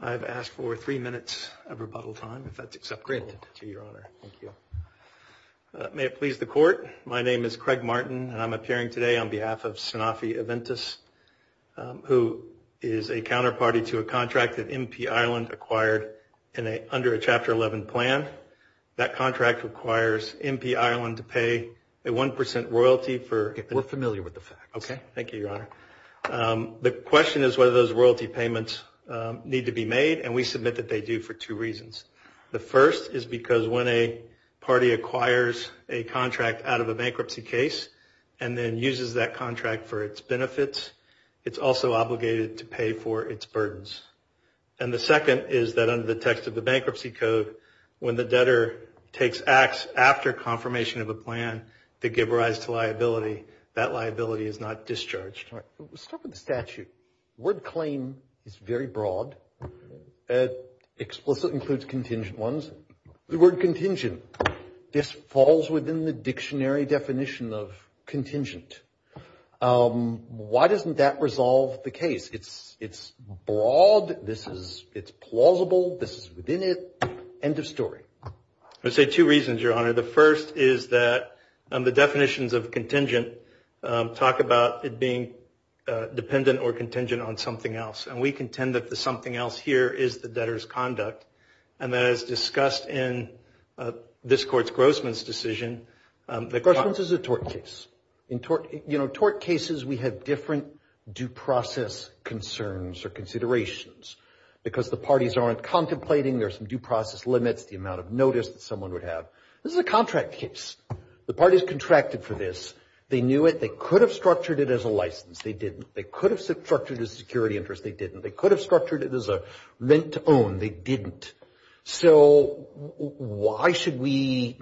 I've asked for three minutes of rebuttal time, if that's acceptable to Your Honor. Thank you. May it please the Court, my name is Craig Martin and I'm appearing today on behalf of Sanofi Aventis, who is a counterparty to a contract that MP Ireland acquired under a Chapter 11 plan. That contract requires MP Ireland to pay a 1% royalty for... We're familiar with the facts. Okay, thank you, Your Honor. The question is whether those royalty payments need to be made and we submit that they do for two reasons. The first is because when a party acquires a contract out of a bankruptcy case and then uses that contract for its benefits, it's also obligated to pay for its burdens. And the second is that under the text of the bankruptcy code, when the debtor takes acts after confirmation of a plan to give rise to liability, that liability is not discharged. All right. Let's start with the statute. The word claim is very broad, it explicitly includes contingent ones. The word contingent, this falls within the dictionary definition of contingent. Why doesn't that resolve the case? It's broad, it's plausible, this is within it, end of story. I would say two reasons, Your Honor. The first is that the definitions of contingent talk about it being dependent or contingent on something else. And we contend that the something else here is the debtor's conduct. And as discussed in this court's Grossman's decision... Grossman's is a tort case. In tort cases, we have different due process concerns or considerations. Because the parties aren't contemplating, there's some due process limits, the amount of notice that someone would have. This is a contract case. The parties contracted for this, they knew it, they could have structured it as a license, they didn't. They could have structured it as a security interest, they didn't. They could have structured it as a rent to own, they didn't. So why should we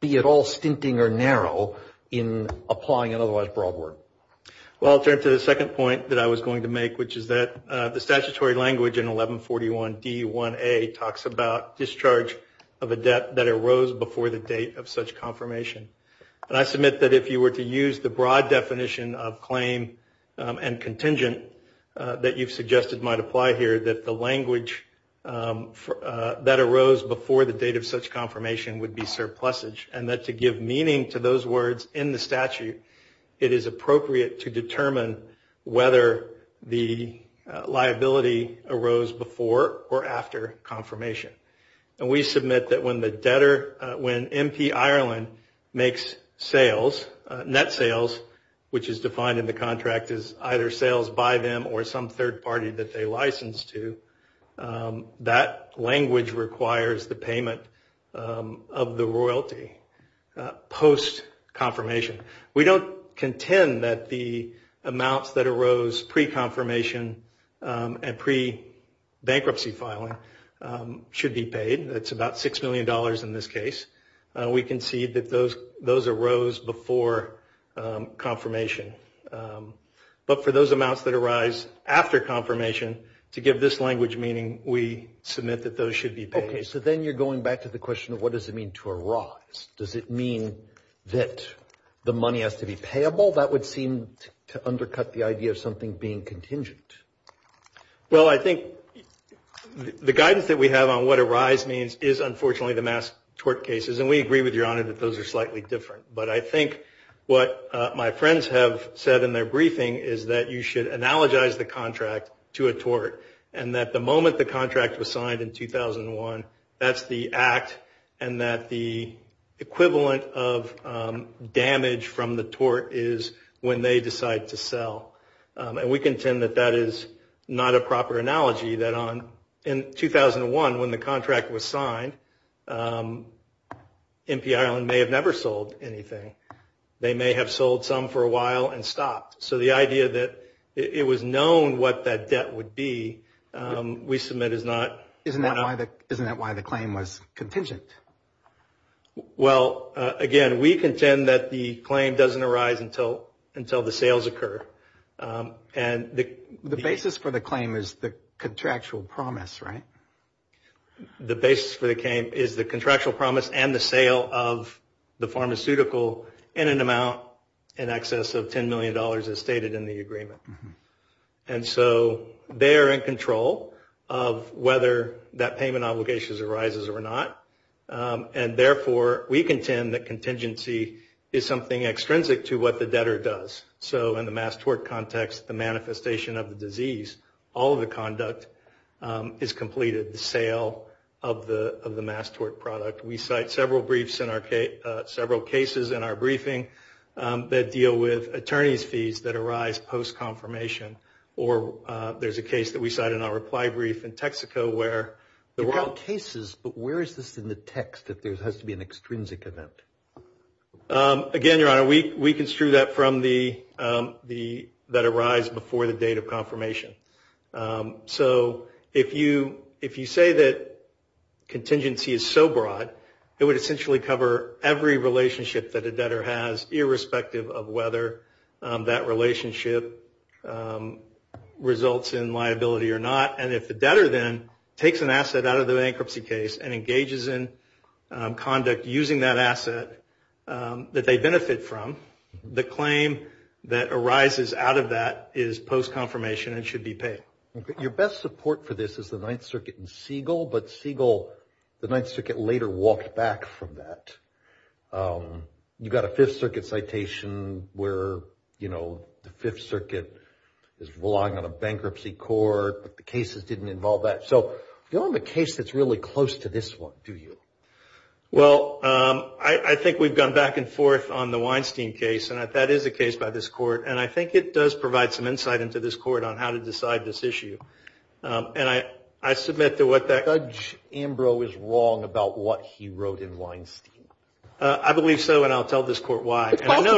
be at all stinting or narrow in applying an otherwise broad word? Well, I'll turn to the second point that I was going to make, which is that the statutory language in 1141 D1A talks about discharge of a debt that arose before the date of such confirmation. And I submit that if you were to use the broad definition of claim and contingent that you've that arose before the date of such confirmation would be surplusage. And that to give meaning to those words in the statute, it is appropriate to determine whether the liability arose before or after confirmation. And we submit that when the debtor... When MP Ireland makes sales, net sales, which is defined in the contract as either sales by them or some third party that they license to, that language requires the payment of the royalty post-confirmation. We don't contend that the amounts that arose pre-confirmation and pre-bankruptcy filing should be paid. It's about $6 million in this case. We concede that those arose before confirmation. But for those amounts that arise after confirmation, to give this language meaning, we submit that those should be paid. Okay. So then you're going back to the question of what does it mean to arise? Does it mean that the money has to be payable? That would seem to undercut the idea of something being contingent. Well, I think the guidance that we have on what arise means is, unfortunately, the mass tort cases. And we agree with Your Honor that those are slightly different. But I think what my friends have said in their briefing is that you should analogize the contract to a tort and that the moment the contract was signed in 2001, that's the act and that the equivalent of damage from the tort is when they decide to sell. And we contend that that is not a proper analogy, that in 2001, when the contract was signed, MP Ireland may have never sold anything. They may have sold some for a while and stopped. So the idea that it was known what that debt would be, we submit is not. Isn't that why the claim was contingent? Well, again, we contend that the claim doesn't arise until the sales occur. And the basis for the claim is the contractual promise, right? The basis for the claim is the contractual promise and the sale of the pharmaceutical in an amount in excess of $10 million as stated in the agreement. And so they are in control of whether that payment obligation arises or not. And therefore, we contend that contingency is something extrinsic to what the debtor does. So in the mass tort context, the manifestation of the disease, all of the conduct is completed, the sale of the mass tort product. We cite several briefs in our case, several cases in our briefing that deal with attorney's fees that arise post-confirmation. Or there's a case that we cite in our reply brief in Texaco where there were... You've got cases, but where is this in the text if there has to be an extrinsic event? Again, Your Honor, we construe that from the... that arise before the date of confirmation. So if you say that contingency is so broad, it would essentially cover every relationship that a debtor has irrespective of whether that relationship results in liability or not. And if the debtor then takes an asset out of the bankruptcy case and engages in conduct using that asset that they benefit from, the claim that arises out of that is post-confirmation and should be paid. Your best support for this is the Ninth Circuit and Siegel, but Siegel... The Ninth Circuit later walked back from that. You've got a Fifth Circuit citation where the Fifth Circuit is relying on a bankruptcy court, but the cases didn't involve that. So you don't have a case that's really close to this one, do you? Well, I think we've gone back and forth on the Weinstein case, and that is a case by this court, and I think it does provide some insight into this court on how to decide this issue. And I submit to what that... Judge Ambrose is wrong about what he wrote in Weinstein. I believe so, and I'll tell this court why. It's possible.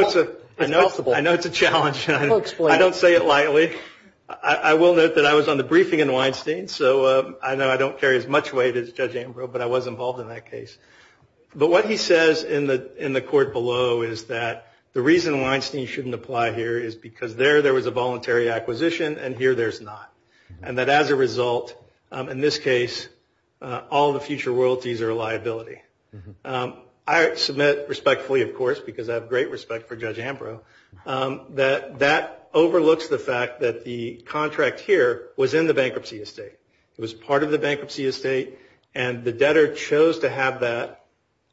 I know it's a challenge. I don't say it lightly. I will note that I was on the briefing in Weinstein, so I know I don't carry as much weight as Judge Ambrose, but I was involved in that case. But what he says in the court below is that the reason Weinstein shouldn't apply here is because there, there was a voluntary acquisition, and here, there's not. And that as a result, in this case, all the future royalties are a liability. I submit respectfully, of course, because I have great respect for Judge Ambrose, that that overlooks the fact that the contract here was in the bankruptcy estate. It was part of the bankruptcy estate, and the debtor chose to have that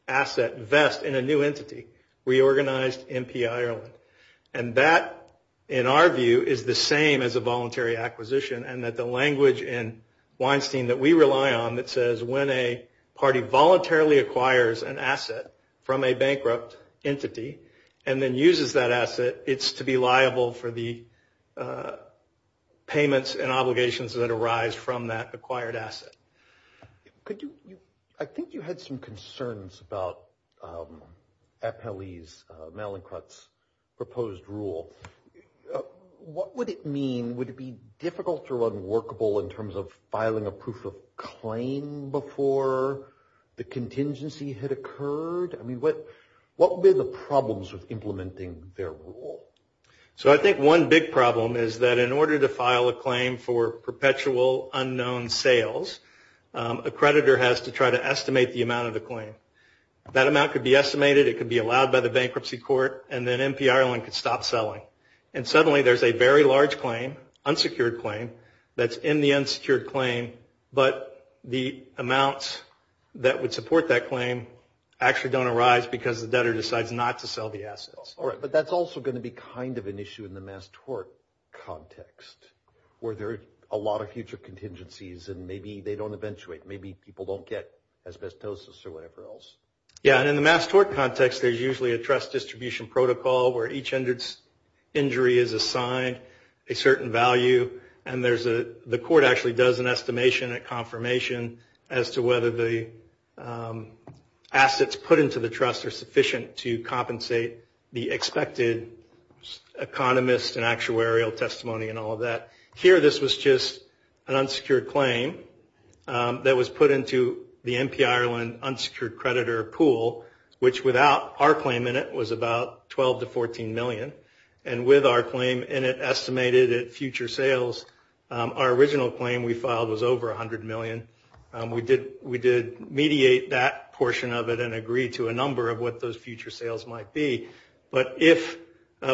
asset vest in a new entity, Reorganized MPI Ireland. And that, in our view, is the same as a voluntary acquisition, and that the language in Weinstein that we rely on that says when a party voluntarily acquires an asset from a bankrupt entity and then uses that asset, it's to be liable for the payments and obligations that arise from that acquired asset. Could you, I think you had some concerns about Appellee's, Malincrut's proposed rule. What would it mean? Would it be difficult or unworkable in terms of filing a proof of claim before the contingency had occurred? I mean, what, what were the problems with implementing their rule? So I think one big problem is that in order to file a claim for perpetual unknown sales, a creditor has to try to estimate the amount of the claim. That amount could be estimated, it could be allowed by the bankruptcy court, and then MPI Ireland could stop selling. And suddenly there's a very large claim, unsecured claim, that's in the unsecured claim, but the amounts that would support that claim actually don't arise because the debtor decides not to sell the assets. All right, but that's also going to be kind of an issue in the mass tort context, where there are a lot of future contingencies and maybe they don't eventuate. Maybe people don't get asbestosis or whatever else. Yeah, and in the mass tort context, there's usually a trust distribution protocol where each injury is assigned a certain value. And there's a, the court actually does an estimation, a confirmation as to whether the assets put into the trust are sufficient to compensate the debtor for the testimony and all of that. Here this was just an unsecured claim that was put into the MPI Ireland unsecured creditor pool, which without our claim in it was about $12 to $14 million. And with our claim in it estimated at future sales, our original claim we filed was over $100 million. We did mediate that portion of it and agreed to a number of what those future sales might be. But if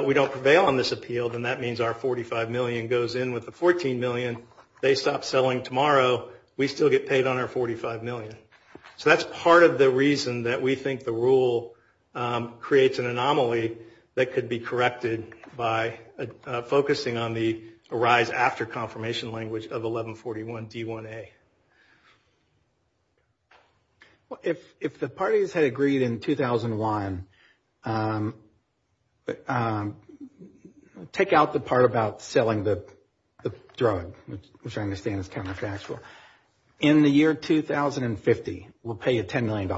we don't prevail on this appeal, then that means our $45 million goes in with the $14 million. They stop selling tomorrow. We still get paid on our $45 million. So that's part of the reason that we think the rule creates an anomaly that could be corrected by focusing on the arise after confirmation language of 1141 D1A. If the parties had agreed in 2001, take out the part about selling the drug, which I understand is counterfactual. In the year 2050, we'll pay you $10 million.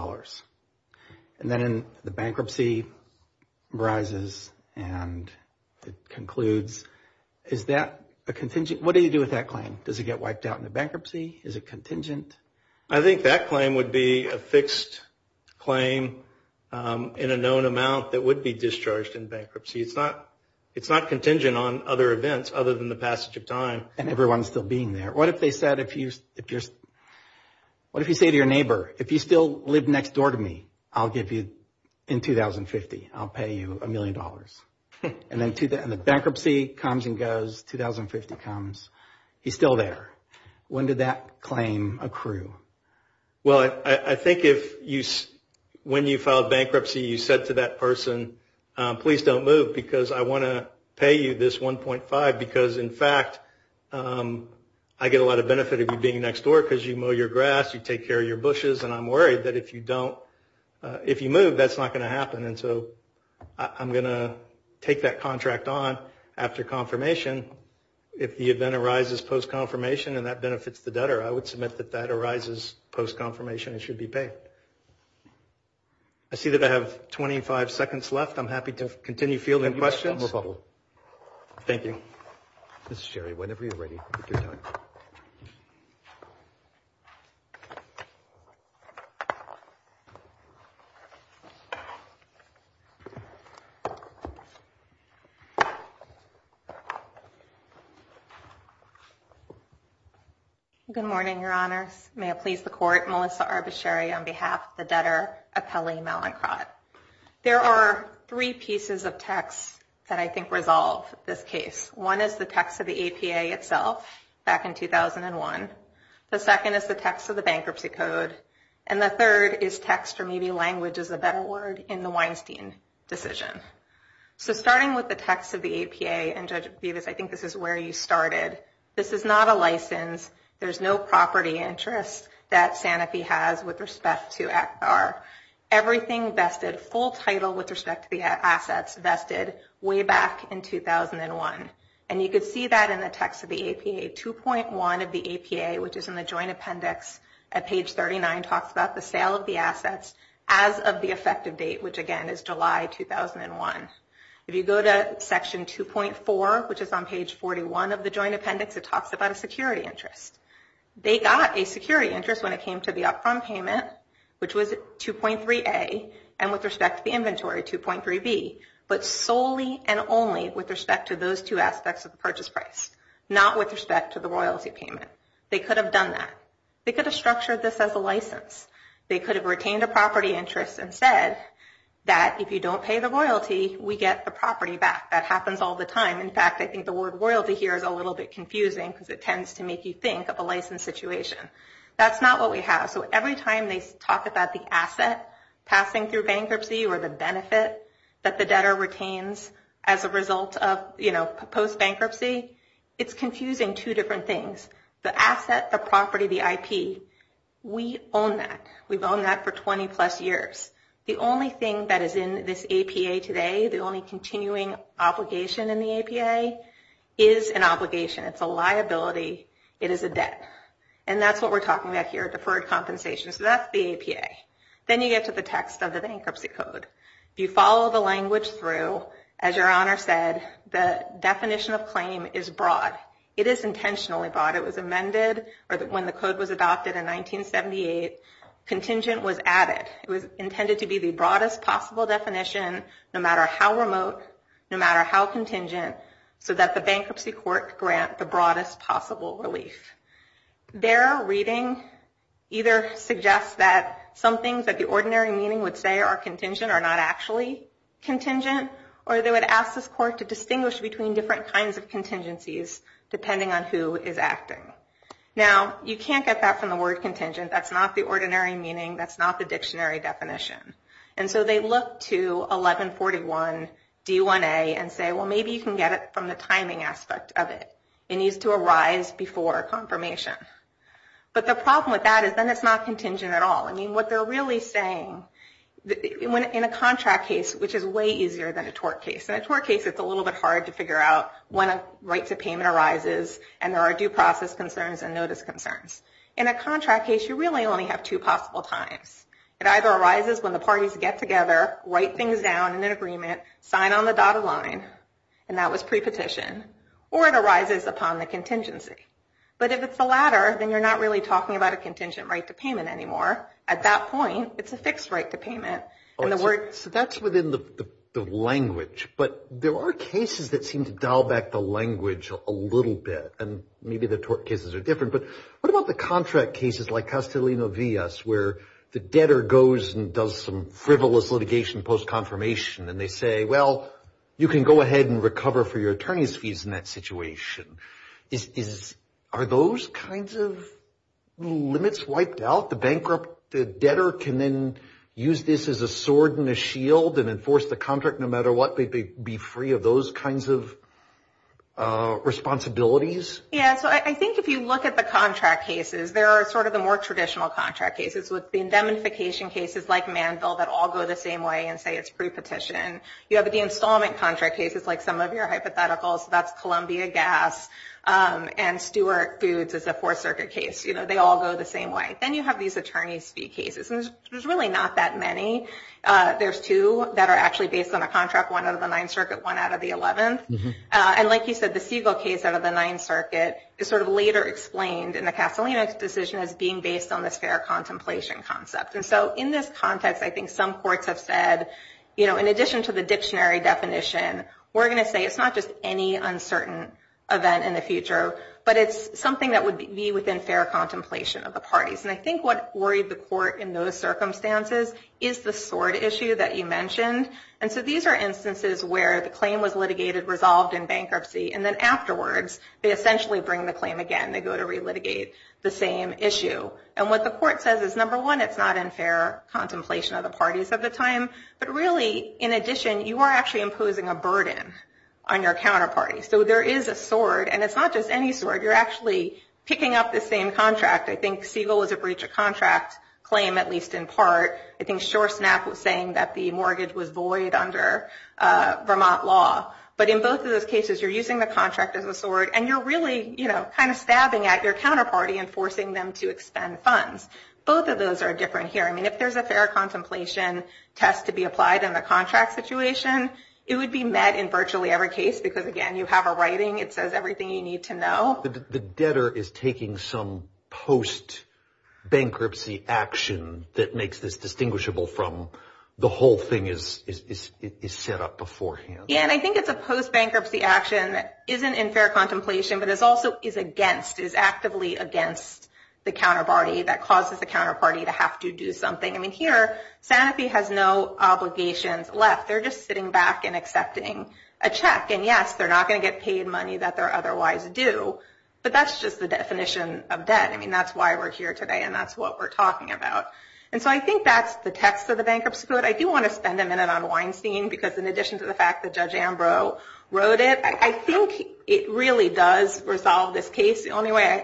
And then the bankruptcy arises and it concludes. Is that a contingent? What do you do with that claim? Does it get wiped out in the bankruptcy? Is it contingent? I think that claim would be a fixed claim in a known amount that would be discharged in bankruptcy. It's not contingent on other events other than the passage of time. And everyone's still being there. What if they said, what if you say to your neighbor, if you still live next door to me, I'll give you in 2050, I'll pay you $1 million. And then the bankruptcy comes and goes, 2050 comes. He's still there. When did that claim accrue? Well, I think if you, when you filed bankruptcy, you said to that person, please don't move because I want to pay you this 1.5 because in fact, I get a lot of benefit of you being next door because you mow your grass, you take care of your bushes. And I'm worried that if you don't, if you move, that's not going to happen. And so I'm going to take that contract on after confirmation. If the event arises post-confirmation and that benefits the debtor, I would submit that that arises post-confirmation and should be paid. I see that I have 25 seconds left. I'm happy to continue fielding questions. Thank you. Ms. Sherry, whenever you're ready. Good morning, Your Honors. May it please the court, Melissa Arbasheri on behalf of the Debtor Appellee Mallinckrodt. There are three pieces of text that I think resolve this case. One is the text of the APA itself back in 2001. The second is the text of the bankruptcy code. And the third is text or maybe language is a better word in the Weinstein decision. So starting with the text of the APA and Judge Bevis, I think this is where you started. This is not a license. There's no property interest that Sanofi has with respect to ACPAR. Everything vested, full title with respect to the assets vested way back in 2001. And you could see that in the text of the APA. 2.1 of the APA, which is in the joint appendix at page 39, talks about the sale of the assets as of the effective date, which again is July 2001. If you go to section 2.4, which is on page 41 of the joint appendix, it talks about a security interest. They got a security interest when it came to the upfront payment, which was 2.3A, and with respect to the inventory, 2.3B. But solely and only with respect to those two aspects of the purchase price. Not with respect to the royalty payment. They could have done that. They could have structured this as a license. They could have retained a property interest and said that if you don't pay the royalty, we get the property back. That happens all the time. In fact, I think the word royalty here is a little bit confusing because it tends to make you think of a license situation. That's not what we have. So every time they talk about the asset passing through bankruptcy or the benefit that the debtor retains as a result of post-bankruptcy, it's confusing two different things. The asset, the property, the IP. We own that. We've owned that for 20 plus years. The only thing that is in this APA today, the only continuing obligation in the APA, is an obligation. It's a liability. It is a debt. And that's what we're talking about here, deferred compensation. So that's the APA. Then you get to the text of the bankruptcy code. If you follow the language through, as your Honor said, the definition of claim is broad. It is intentionally broad. It was amended when the code was adopted in 1978. Contingent was added. It was intended to be the broadest possible definition, no matter how remote, no matter how contingent, so that the bankruptcy court grant the broadest possible relief. Their reading either suggests that some things that the ordinary meaning would say are contingent are not actually contingent, or they would ask this court to distinguish between different kinds of contingencies, depending on who is acting. Now, you can't get that from the word contingent. That's not the ordinary meaning. That's not the dictionary definition. And so they look to 1141 D1A and say, well, maybe you can get it from the timing aspect of it. It needs to arise before confirmation. But the problem with that is then it's not contingent at all. I mean, what they're really saying, in a contract case, which is way easier than a tort case. In a tort case, it's a little bit hard to figure out when a right to payment arises, and there are due process concerns and notice concerns. In a contract case, you really only have two possible times. It either arises when the parties get together, write things down in an agreement, sign on the dotted line, and that was pre-petition, or it arises upon the contingency. But if it's the latter, then you're not really talking about a contingent right to payment anymore. At that point, it's a fixed right to payment. So that's within the language. But there are cases that seem to dial back the language a little bit, and maybe the tort cases are different. But what about the contract cases like Castellino-Villas, where the debtor goes and does some frivolous litigation post-confirmation, and they say, well, you can go ahead and recover for your attorney's fees in that case. Are those kinds of limits wiped out? The bankrupt debtor can then use this as a sword and a shield and enforce the contract no matter what. They'd be free of those kinds of responsibilities? Yeah. So I think if you look at the contract cases, there are sort of the more traditional contract cases with indemnification cases like Manville that all go the same way and say it's pre-petition. You have the installment contract cases like some of your hypotheticals. That's Columbia Gas and Stewart Foods as a Fourth Circuit case. They all go the same way. Then you have these attorney's fee cases. And there's really not that many. There's two that are actually based on a contract, one out of the Ninth Circuit, one out of the Eleventh. And like you said, the Siegel case out of the Ninth Circuit is sort of later explained in the Castellino decision as being based on this fair contemplation concept. And so in this context, I think some courts have said, in addition to the fact that this is an uncertain event in the future, but it's something that would be within fair contemplation of the parties. And I think what worried the court in those circumstances is the sword issue that you mentioned. And so these are instances where the claim was litigated, resolved in bankruptcy, and then afterwards they essentially bring the claim again. They go to relitigate the same issue. And what the court says is, number one, it's not in fair contemplation of the parties at the time. But really, in addition, you are actually imposing a burden on your counterparty. So there is a sword, and it's not just any sword. You're actually picking up the same contract. I think Siegel was a breach of contract claim, at least in part. I think SureSnap was saying that the mortgage was void under Vermont law. But in both of those cases, you're using the contract as a sword, and you're really, you know, kind of stabbing at your counterparty and forcing them to expend funds. Both of those are different here. I mean, if there's a fair contemplation test to be applied in the contract situation, it would be met in virtually every case. Because, again, you have a writing. It says everything you need to know. The debtor is taking some post-bankruptcy action that makes this distinguishable from the whole thing is set up beforehand. Yeah, and I think it's a post-bankruptcy action that isn't in fair contemplation, but is also is against, is actively against the counterparty that causes the counterparty to have to do something. I mean, here, Sanofi has no obligations left. They're just sitting back and accepting a check. And, yes, they're not going to get paid money that they're otherwise due. But that's just the definition of debt. I mean, that's why we're here today, and that's what we're talking about. And so I think that's the text of the Bankruptcy Code. I do want to spend a minute on Weinstein, because in addition to the fact that Judge Ambrose wrote it, I think it really does resolve this The only way I, I don't know.